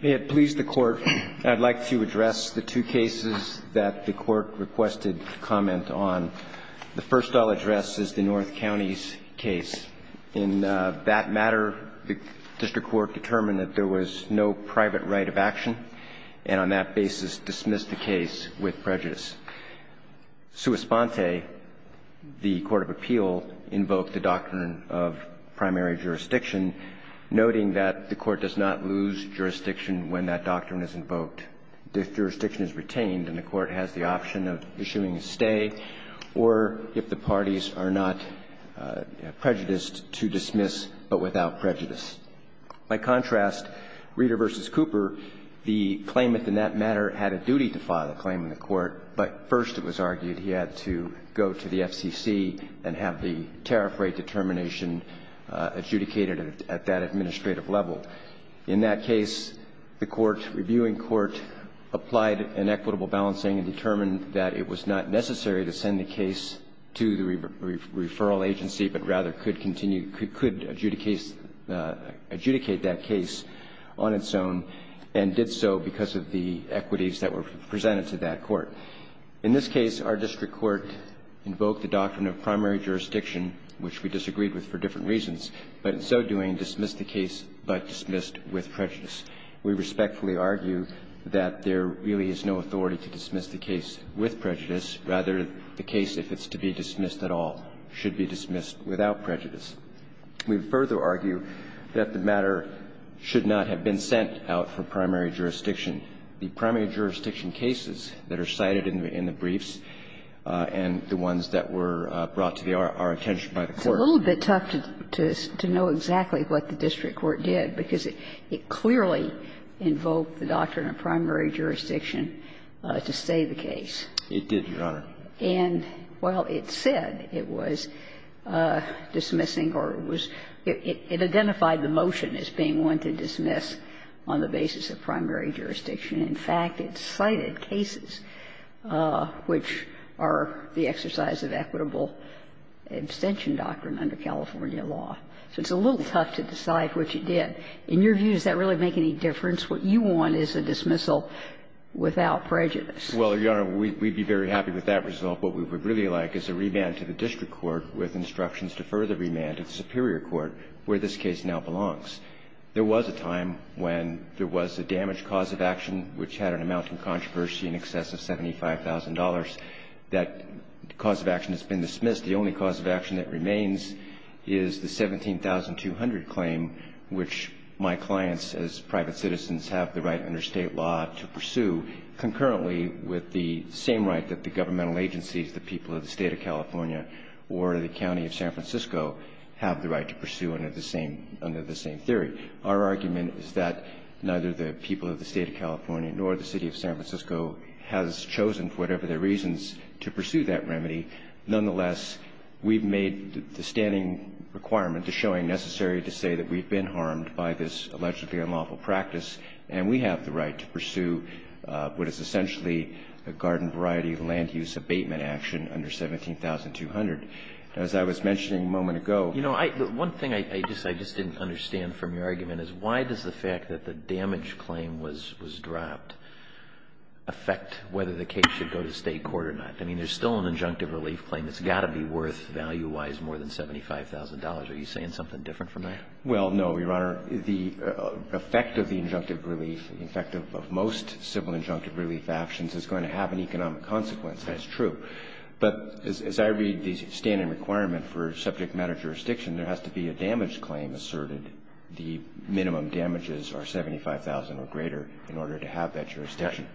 May it please the Court, I would like to address the two cases that the Court requested comment on. The first I'll address is the North County's case. In that matter, the district court determined that there was no private right of action, and on that basis dismissed the case with prejudice. Suis Ponte, the court of appeal, invoked the doctrine of primary jurisdiction, noting that the Court does not lose jurisdiction when that doctrine is invoked. If jurisdiction is retained, then the Court has the option of issuing a stay, or if the parties are not prejudiced, to dismiss but without prejudice. By contrast, Reader v. Cooper, the claimant in that matter had a duty to file a claim in the Court, but first it was argued he had to go to the FCC and have the tariff rate determination adjudicated at that administrative level. In that case, the court, reviewing court, applied an equitable balancing and determined that it was not necessary to send the case to the referral agency, but rather could continue, could adjudicate that case on its own, and did so because of the equities that were presented to that court. In this case, our district court invoked the doctrine of primary jurisdiction, which we disagreed with for different reasons, but in so doing dismissed the case but dismissed with prejudice. We respectfully argue that there really is no authority to dismiss the case with prejudice. Rather, the case, if it's to be dismissed at all, should be dismissed without prejudice. We further argue that the matter should not have been sent out for primary jurisdiction. The primary jurisdiction cases that are cited in the briefs and the ones that were brought to our attention by the Court. It's a little bit tough to know exactly what the district court did, because it clearly invoked the doctrine of primary jurisdiction to say the case. It did, Your Honor. And while it said it was dismissing or it was – it identified the motion as being one to dismiss on the basis of primary jurisdiction, in fact, it cited cases which are the exercise of equitable abstention doctrine under California law. So it's a little tough to decide what you did. In your view, does that really make any difference? What you want is a dismissal without prejudice. Well, Your Honor, we'd be very happy with that result. What we would really like is a remand to the district court with instructions to further remand to the superior court where this case now belongs. There was a time when there was a damaged cause of action which had an amount in controversy in excess of $75,000. That cause of action has been dismissed. The only cause of action that remains is the 17,200 claim, which my clients as private citizens have the right under State law to pursue concurrently with the same right that the governmental agencies, the people of the State of California or the County of San Francisco have the right to pursue under the same theory. Our argument is that neither the people of the State of California nor the City of San Francisco has chosen for whatever their reasons to pursue that remedy. Nonetheless, we've made the standing requirement, the showing necessary to say that we've been harmed by this allegedly unlawful practice, and we have the right to pursue what is essentially a garden variety land use abatement action under 17,200. As I was mentioning a moment ago ---- You know, one thing I just didn't understand from your argument is why does the fact that the damaged claim was dropped affect whether the case should go to State court or not? I mean, there's still an injunctive relief claim that's got to be worth value-wise more than $75,000. Are you saying something different from that? Well, no, Your Honor. The effect of the injunctive relief, the effect of most civil injunctive relief actions is going to have an economic consequence. That's true. But as I read the standing requirement for subject matter jurisdiction, there has to be a damaged claim asserted. The minimum damages are $75,000 or greater in order to have that jurisdiction.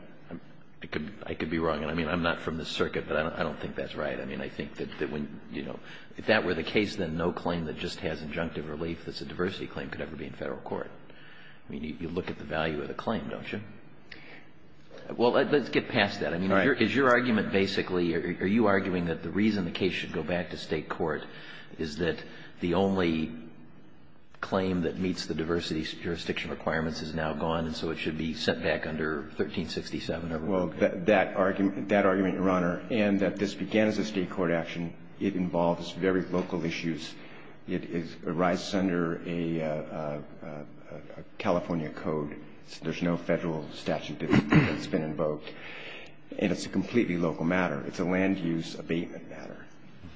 I could be wrong. I mean, I'm not from this circuit, but I don't think that's right. I mean, I think that when, you know, if that were the case, then no claim that just has injunctive relief that's a diversity claim could ever be in Federal court. I mean, you look at the value of the claim, don't you? Well, let's get past that. I mean, is your argument basically, are you arguing that the reason the case should go back to State court is that the only claim that meets the diversity jurisdiction requirements is now gone and so it should be sent back under 1367? Well, that argument, Your Honor, and that this began as a State court action, it involves very local issues. It arises under a California code. There's no Federal statute that's been invoked. And it's a completely local matter. It's a land-use abatement matter.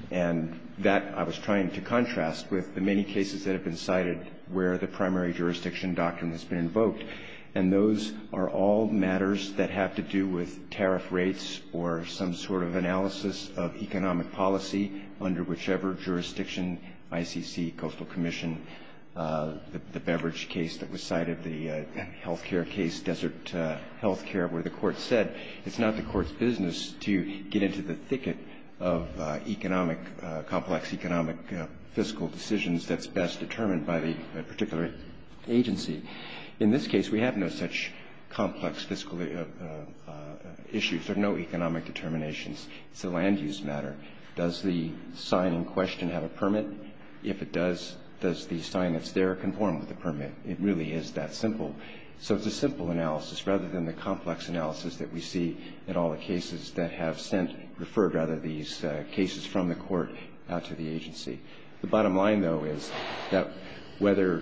And that I was trying to contrast with the many cases that have been cited where the primary jurisdiction doctrine has been invoked. And those are all matters that have to do with tariff rates or some sort of analysis of economic policy under whichever jurisdiction, ICC, Coastal Commission, the beverage case that was cited, the health care case, desert health care, where the Court said it's not the Court's business to get into the thicket of economic complex, economic fiscal decisions that's best determined by the particular agency. In this case, we have no such complex fiscal issues. There are no economic determinations. It's a land-use matter. Does the sign in question have a permit? If it does, does the sign that's there conform with the permit? It really is that simple. So it's a simple analysis rather than the complex analysis that we see in all the cases that have sent, referred, rather, these cases from the Court out to the agency. The bottom line, though, is that whether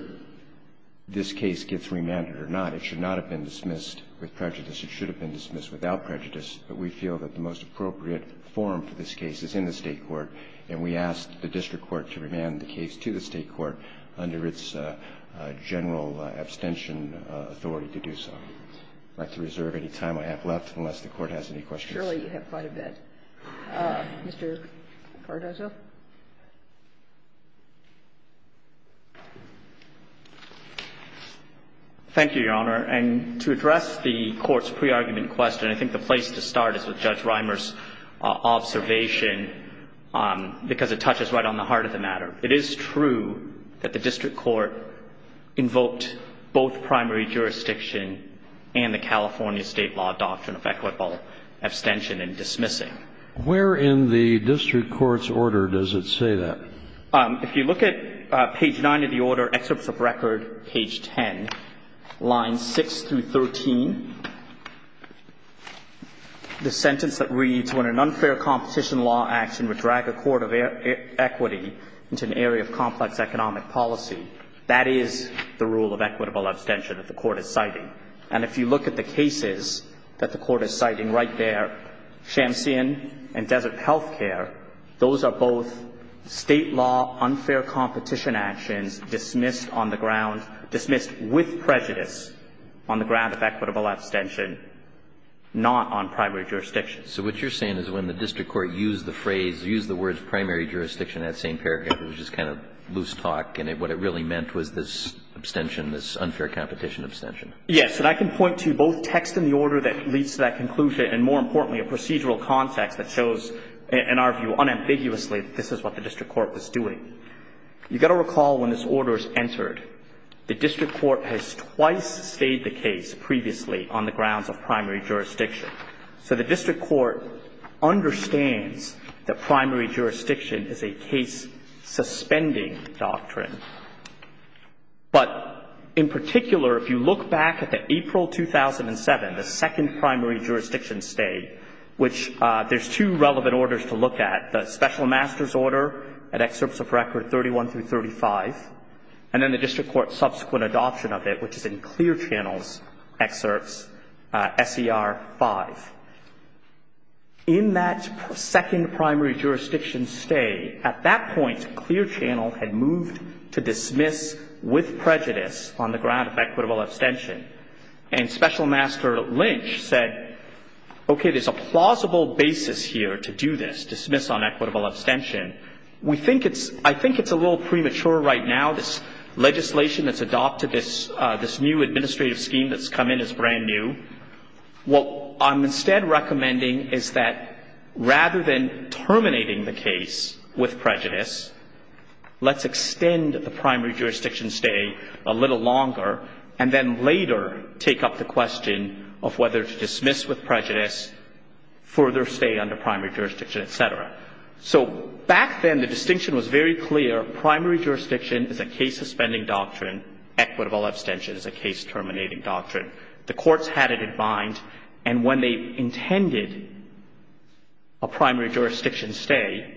this case gets remanded or not, it should not have been dismissed with prejudice. It should have been dismissed without prejudice. But we feel that the most appropriate forum for this case is in the State court, and we ask the district court to remand the case to the State court under its general abstention authority to do so. I'd like to reserve any time I have left unless the Court has any questions. Surely you have quite a bit. Mr. Cardozo. Thank you, Your Honor. And to address the Court's pre-argument question, I think the place to start is with Judge Reimer's observation, because it touches right on the heart of the matter. It is true that the district court invoked both primary jurisdiction and the California State law doctrine of equitable abstention and dismissing. Where in the district court's order does it say that? If you look at page 9 of the order, excerpts of record, page 10, lines 6 through 13, the sentence that reads, when an unfair competition law action would drag a court of equity into an area of complex economic policy, that is the rule of equitable abstention that the court is citing. And if you look at the cases that the court is citing right there, Shamsian and Desert Healthcare, those are both State law unfair competition actions dismissed on the ground, dismissed with prejudice on the ground of equitable abstention, not on primary jurisdiction. So what you're saying is when the district court used the phrase, used the words primary jurisdiction, that same paragraph was just kind of loose talk, and what it really meant was this abstention, this unfair competition abstention. Yes. And I can point to both text in the order that leads to that conclusion and, more in our view, unambiguously, this is what the district court was doing. You've got to recall when this order is entered, the district court has twice stayed the case previously on the grounds of primary jurisdiction. So the district court understands that primary jurisdiction is a case-suspending doctrine. But in particular, if you look back at the April 2007, the second primary jurisdiction stay, which there's two relevant orders to look at, the special master's order at excerpts of record 31 through 35, and then the district court's subsequent adoption of it, which is in Clear Channel's excerpts, SER 5. In that second primary jurisdiction stay, at that point, Clear Channel had moved to dismiss with prejudice on the ground of equitable abstention. And special master Lynch said, okay, there's a plausible basis here to do this, dismiss on equitable abstention. We think it's – I think it's a little premature right now, this legislation that's adopted, this new administrative scheme that's come in is brand new. What I'm instead recommending is that rather than terminating the case with prejudice, let's extend the primary jurisdiction stay a little longer, and then later, take up the question of whether to dismiss with prejudice, further stay under primary jurisdiction, et cetera. So back then, the distinction was very clear. Primary jurisdiction is a case-suspending doctrine. Equitable abstention is a case-terminating doctrine. The courts had it in mind. And when they intended a primary jurisdiction stay,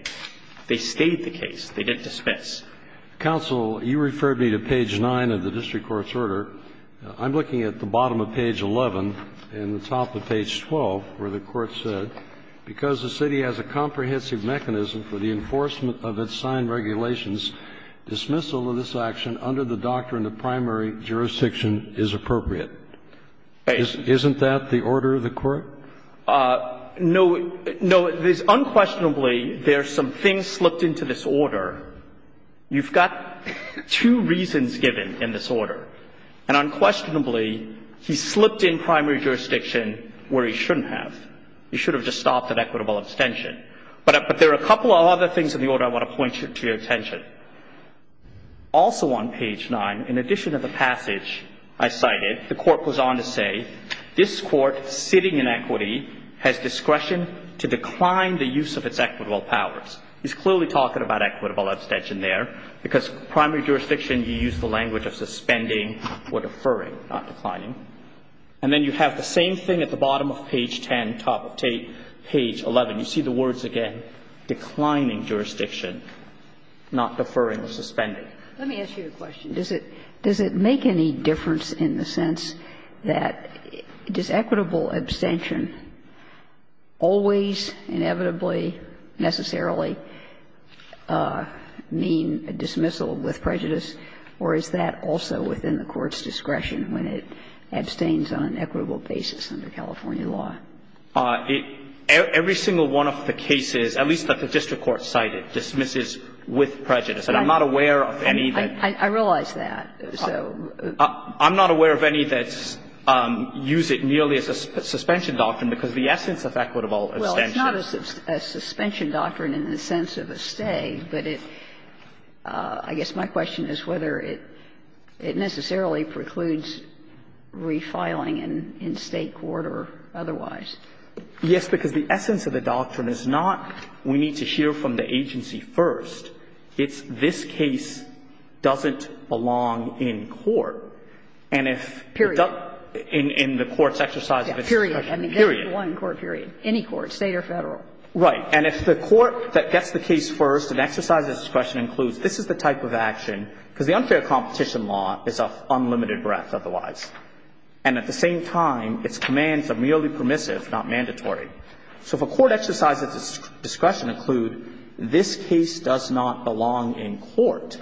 they stayed the case. They didn't dismiss. Kennedy. Counsel, you referred me to page 9 of the district court's order. I'm looking at the bottom of page 11 and the top of page 12 where the court said, because the city has a comprehensive mechanism for the enforcement of its signed regulations, dismissal of this action under the doctrine of primary jurisdiction is appropriate. Isn't that the order of the court? No. Unquestionably, there are some things slipped into this order. You've got two reasons given in this order. And unquestionably, he slipped in primary jurisdiction where he shouldn't have. He should have just stopped at equitable abstention. But there are a couple of other things in the order I want to point to your attention. Also on page 9, in addition to the passage I cited, the court goes on to say, this Court sitting in equity has discretion to decline the use of its equitable powers. He's clearly talking about equitable abstention there, because primary jurisdiction you use the language of suspending or deferring, not declining. And then you have the same thing at the bottom of page 10, top of page 11. You see the words again, declining jurisdiction, not deferring or suspending. Let me ask you a question. Does it make any difference in the sense that does equitable abstention always, inevitably, necessarily mean a dismissal with prejudice? Or is that also within the court's discretion when it abstains on an equitable basis under California law? Every single one of the cases, at least that the district court cited, dismisses with prejudice. And I'm not aware of any that. I realize that. So. I'm not aware of any that use it merely as a suspension doctrine, because the essence of equitable abstention is. Well, it's not a suspension doctrine in the sense of a stay, but it – I guess my question is whether it necessarily precludes refiling in State court or otherwise. Yes, because the essence of the doctrine is not we need to hear from the agency first, it's this case doesn't belong in court, and if. Period. In the court's exercise of its discretion. Yes, period. Period. I mean, that's the law in court, period. Any court, State or Federal. Right. And if the court that gets the case first and exercises discretion includes this is the type of action, because the unfair competition law is of unlimited breadth otherwise. And at the same time, its commands are merely permissive, not mandatory. So if a court exercises its discretion to include this case does not belong in court,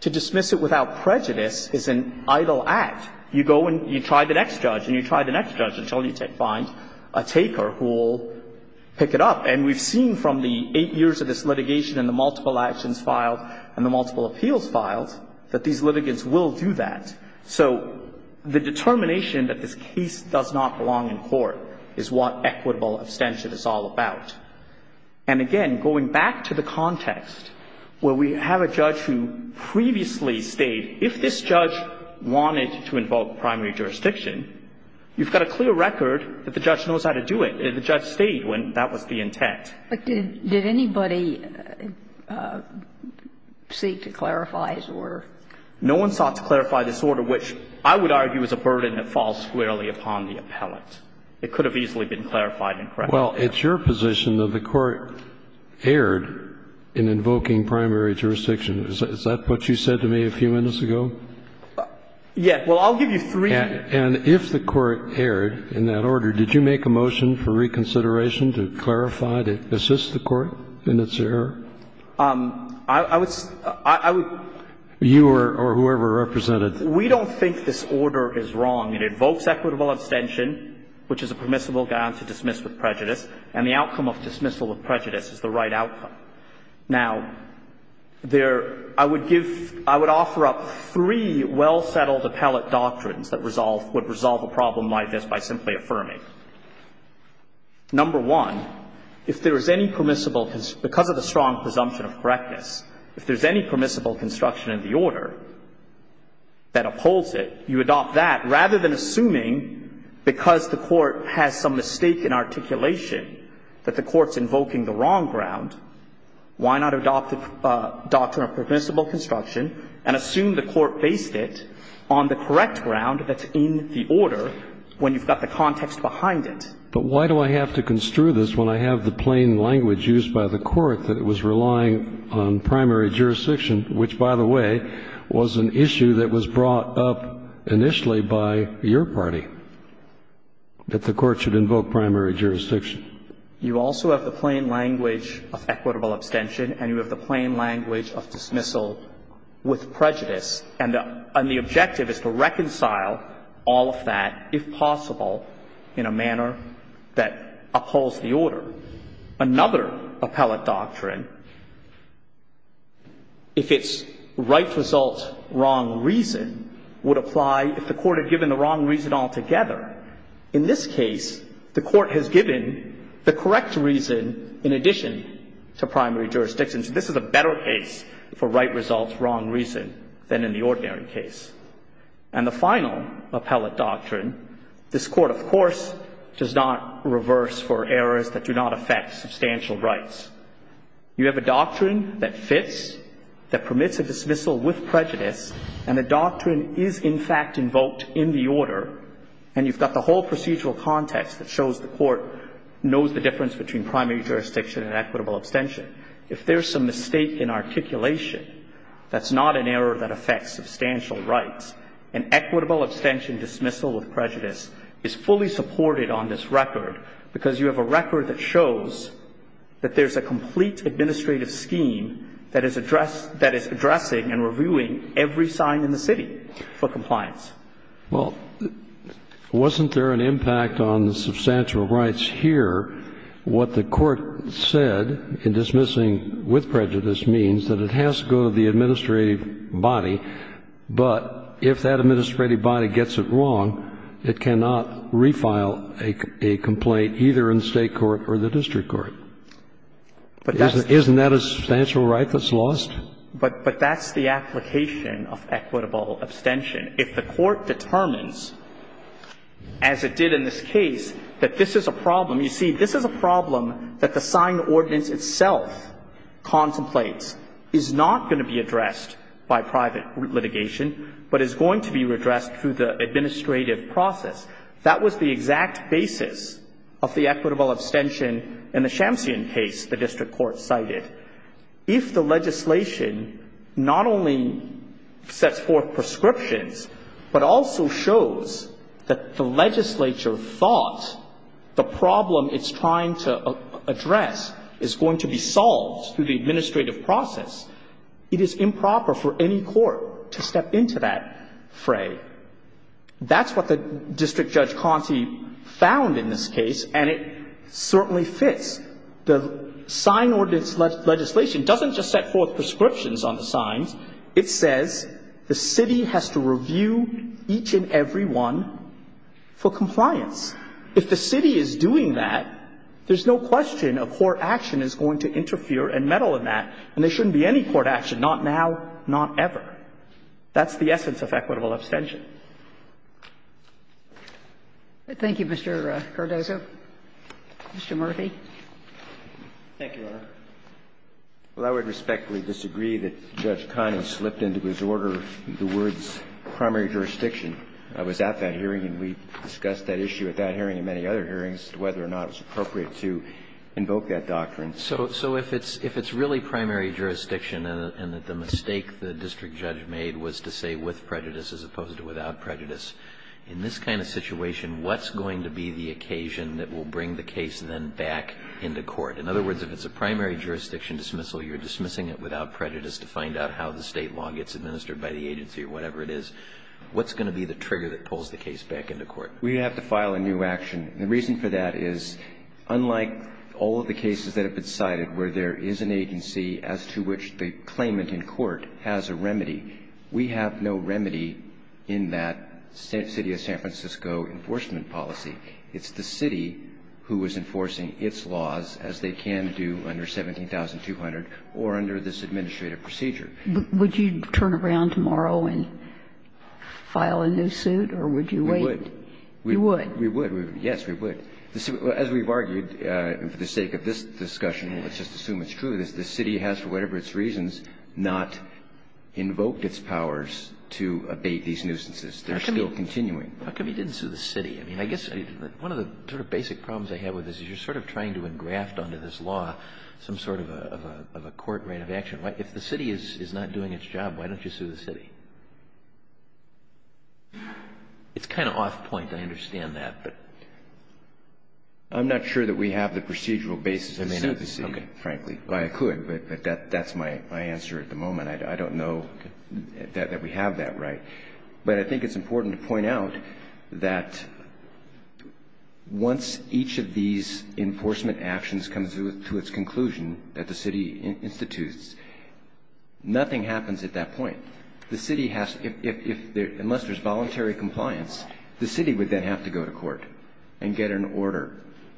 to dismiss it without prejudice is an idle act. You go and you try the next judge and you try the next judge until you find a taker who will pick it up. And we've seen from the eight years of this litigation and the multiple actions filed and the multiple appeals filed that these litigants will do that. So the determination that this case does not belong in court is what equitable abstention is all about. And again, going back to the context where we have a judge who previously stayed, if this judge wanted to invoke primary jurisdiction, you've got a clear record that the judge knows how to do it. The judge stayed when that was the intent. But did anybody seek to clarify his order? No one sought to clarify this order, which I would argue is a burden that falls squarely upon the appellant. It could have easily been clarified and corrected. Well, it's your position that the Court erred in invoking primary jurisdiction. Is that what you said to me a few minutes ago? Yeah. Well, I'll give you three. And if the Court erred in that order, did you make a motion for reconsideration to clarify, to assist the Court in its error? You or whoever represented? We don't think this order is wrong. It invokes equitable abstention, which is a permissible guy on to dismiss with prejudice, and the outcome of dismissal with prejudice is the right outcome. Now, there – I would give – I would offer up three well-settled appellate doctrines that resolve – would resolve a problem like this by simply affirming. Number one, if there is any permissible – because of the strong presumption of correctness, if there's any permissible construction in the order that upholds it, you adopt that. Rather than assuming because the Court has some mistake in articulation that the Court's invoking the wrong ground, why not adopt the doctrine of permissible construction and assume the Court based it on the correct ground that's in the But why do I have to construe this when I have the plain language used by the Court that it was relying on primary jurisdiction, which, by the way, was an issue that was brought up initially by your party, that the Court should invoke primary jurisdiction? You also have the plain language of equitable abstention, and you have the plain language of dismissal with prejudice, and the objective is to reconcile all of that, if possible, in a manner that upholds the order. Another appellate doctrine, if it's right result, wrong reason, would apply if the Court had given the wrong reason altogether. In this case, the Court has given the correct reason in addition to primary jurisdiction. So this is a better case for right result, wrong reason than in the ordinary case. And the final appellate doctrine, this Court, of course, does not reverse for errors that do not affect substantial rights. You have a doctrine that fits, that permits a dismissal with prejudice, and the doctrine is, in fact, invoked in the order, and you've got the whole procedural context that shows the Court knows the difference between primary jurisdiction and equitable abstention. If there's some mistake in articulation, that's not an error that affects substantial rights. An equitable abstention dismissal with prejudice is fully supported on this record because you have a record that shows that there's a complete administrative scheme that is addressing and reviewing every sign in the city for compliance. Well, wasn't there an impact on the substantial rights here? What the Court said in dismissing with prejudice means that it has to go to the But if that administrative body gets it wrong, it cannot refile a complaint either in State court or the district court. Isn't that a substantial right that's lost? But that's the application of equitable abstention. If the Court determines, as it did in this case, that this is a problem, you see, this is a problem that the signed ordinance itself contemplates is not going to be addressed through the administrative process. That was the exact basis of the equitable abstention in the Shamsian case the district court cited. If the legislation not only sets forth prescriptions but also shows that the legislature thought the problem it's trying to address is going to be solved through the administrative process, it is improper for any court to step into that fray. That's what the district judge Conte found in this case, and it certainly fits. The signed ordinance legislation doesn't just set forth prescriptions on the signs. It says the city has to review each and every one for compliance. If the city is doing that, there's no question a court action is going to interfere and meddle in that, and there shouldn't be any court action, not now, not ever. That's the essence of equitable abstention. Thank you, Mr. Cardozo. Mr. Murthy. Thank you, Your Honor. Well, I would respectfully disagree that Judge Conning slipped into disorder the words primary jurisdiction. I was at that hearing and we discussed that issue at that hearing and many other hearings as to whether or not it was appropriate to invoke that doctrine. So if it's really primary jurisdiction and that the mistake the district judge made was to say with prejudice as opposed to without prejudice, in this kind of situation, what's going to be the occasion that will bring the case then back into court? In other words, if it's a primary jurisdiction dismissal, you're dismissing it without prejudice to find out how the State law gets administered by the agency or whatever it is. What's going to be the trigger that pulls the case back into court? We have to file a new action. The reason for that is unlike all of the cases that have been cited where there is an agency as to which the claimant in court has a remedy, we have no remedy in that city of San Francisco enforcement policy. It's the city who is enforcing its laws as they can do under 17200 or under this administrative procedure. Would you turn around tomorrow and file a new suit or would you wait? We would. You would? We would. Yes, we would. As we've argued for the sake of this discussion, let's just assume it's true, is the city has for whatever its reasons not invoked its powers to abate these nuisances. They're still continuing. How come you didn't sue the city? I mean, I guess one of the sort of basic problems I have with this is you're sort of trying to engraft under this law some sort of a court rate of action. If the city is not doing its job, why don't you sue the city? It's kind of off point. I understand that, but. I'm not sure that we have the procedural basis to sue the city, frankly. Okay. I could, but that's my answer at the moment. I don't know that we have that right. But I think it's important to point out that once each of these enforcement actions comes to its conclusion that the city institutes, nothing happens at that point. The city has to, unless there's voluntary compliance, the city would then have to go to court and get an order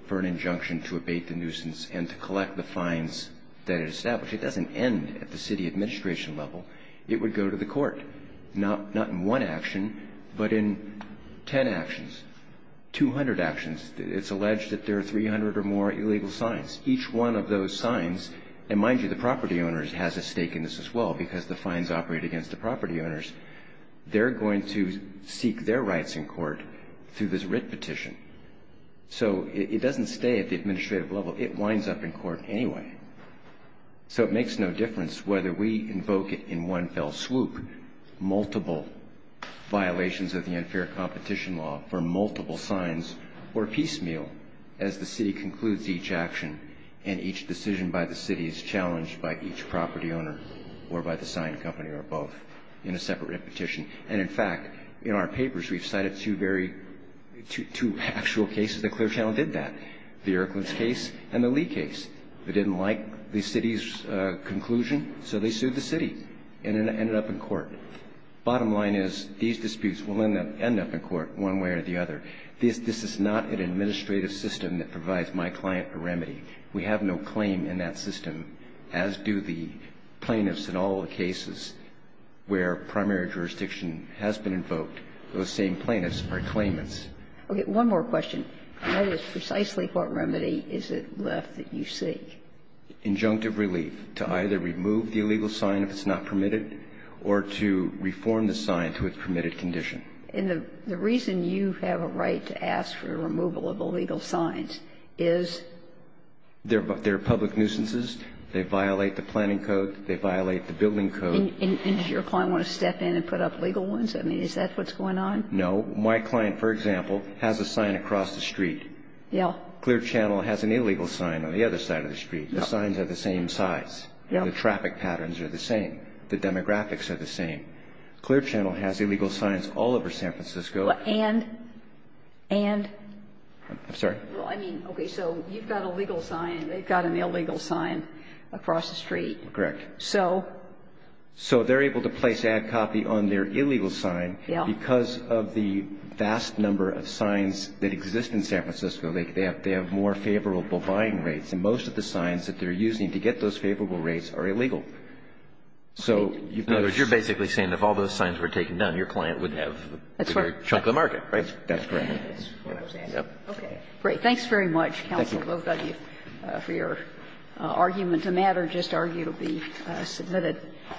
for an injunction to abate the nuisance and to collect the fines that it established. It doesn't end at the city administration level. It would go to the court, not in one action, but in ten actions, 200 actions. It's alleged that there are 300 or more illegal signs. Each one of those signs, and mind you, the property owner has a stake in this as well because the fines operate against the property owners. They're going to seek their rights in court through this writ petition. So it doesn't stay at the administrative level. It winds up in court anyway. So it makes no difference whether we invoke it in one fell swoop, multiple violations of the unfair competition law for multiple signs or piecemeal as the city concludes each action and each decision by the city is challenged by each other, by the sign company or both, in a separate petition. And, in fact, in our papers, we've cited two very, two actual cases that Clear Channel did that, the Erklins case and the Lee case. They didn't like the city's conclusion, so they sued the city and ended up in court. Bottom line is, these disputes will end up in court one way or the other. This is not an administrative system that provides my client a remedy. We have no claim in that system, as do the plaintiffs in all the cases where primary jurisdiction has been invoked. Those same plaintiffs are claimants. Okay. One more question. That is precisely what remedy is it left that you seek? Injunctive relief, to either remove the illegal sign if it's not permitted or to reform the sign to its permitted condition. And the reason you have a right to ask for removal of illegal signs is? They're public nuisances. They violate the planning code. They violate the building code. And does your client want to step in and put up legal ones? I mean, is that what's going on? No. My client, for example, has a sign across the street. Yeah. Clear Channel has an illegal sign on the other side of the street. Yeah. The signs are the same size. Yeah. The traffic patterns are the same. The demographics are the same. Clear Channel has illegal signs all over San Francisco. And? And? I'm sorry? Well, I mean, okay, so you've got a legal sign. They've got an illegal sign across the street. Correct. So? So they're able to place ad copy on their illegal sign. Yeah. Because of the vast number of signs that exist in San Francisco, they have more favorable buying rates. And most of the signs that they're using to get those favorable rates are illegal. So you've got a sign. In other words, you're basically saying if all those signs were taken down, your client would have a bigger chunk of the market, right? That's correct. That's what I was asking. Okay. Great. Thanks very much, Counsel. Thank you. Both of you for your argument. The matter just argued will be submitted.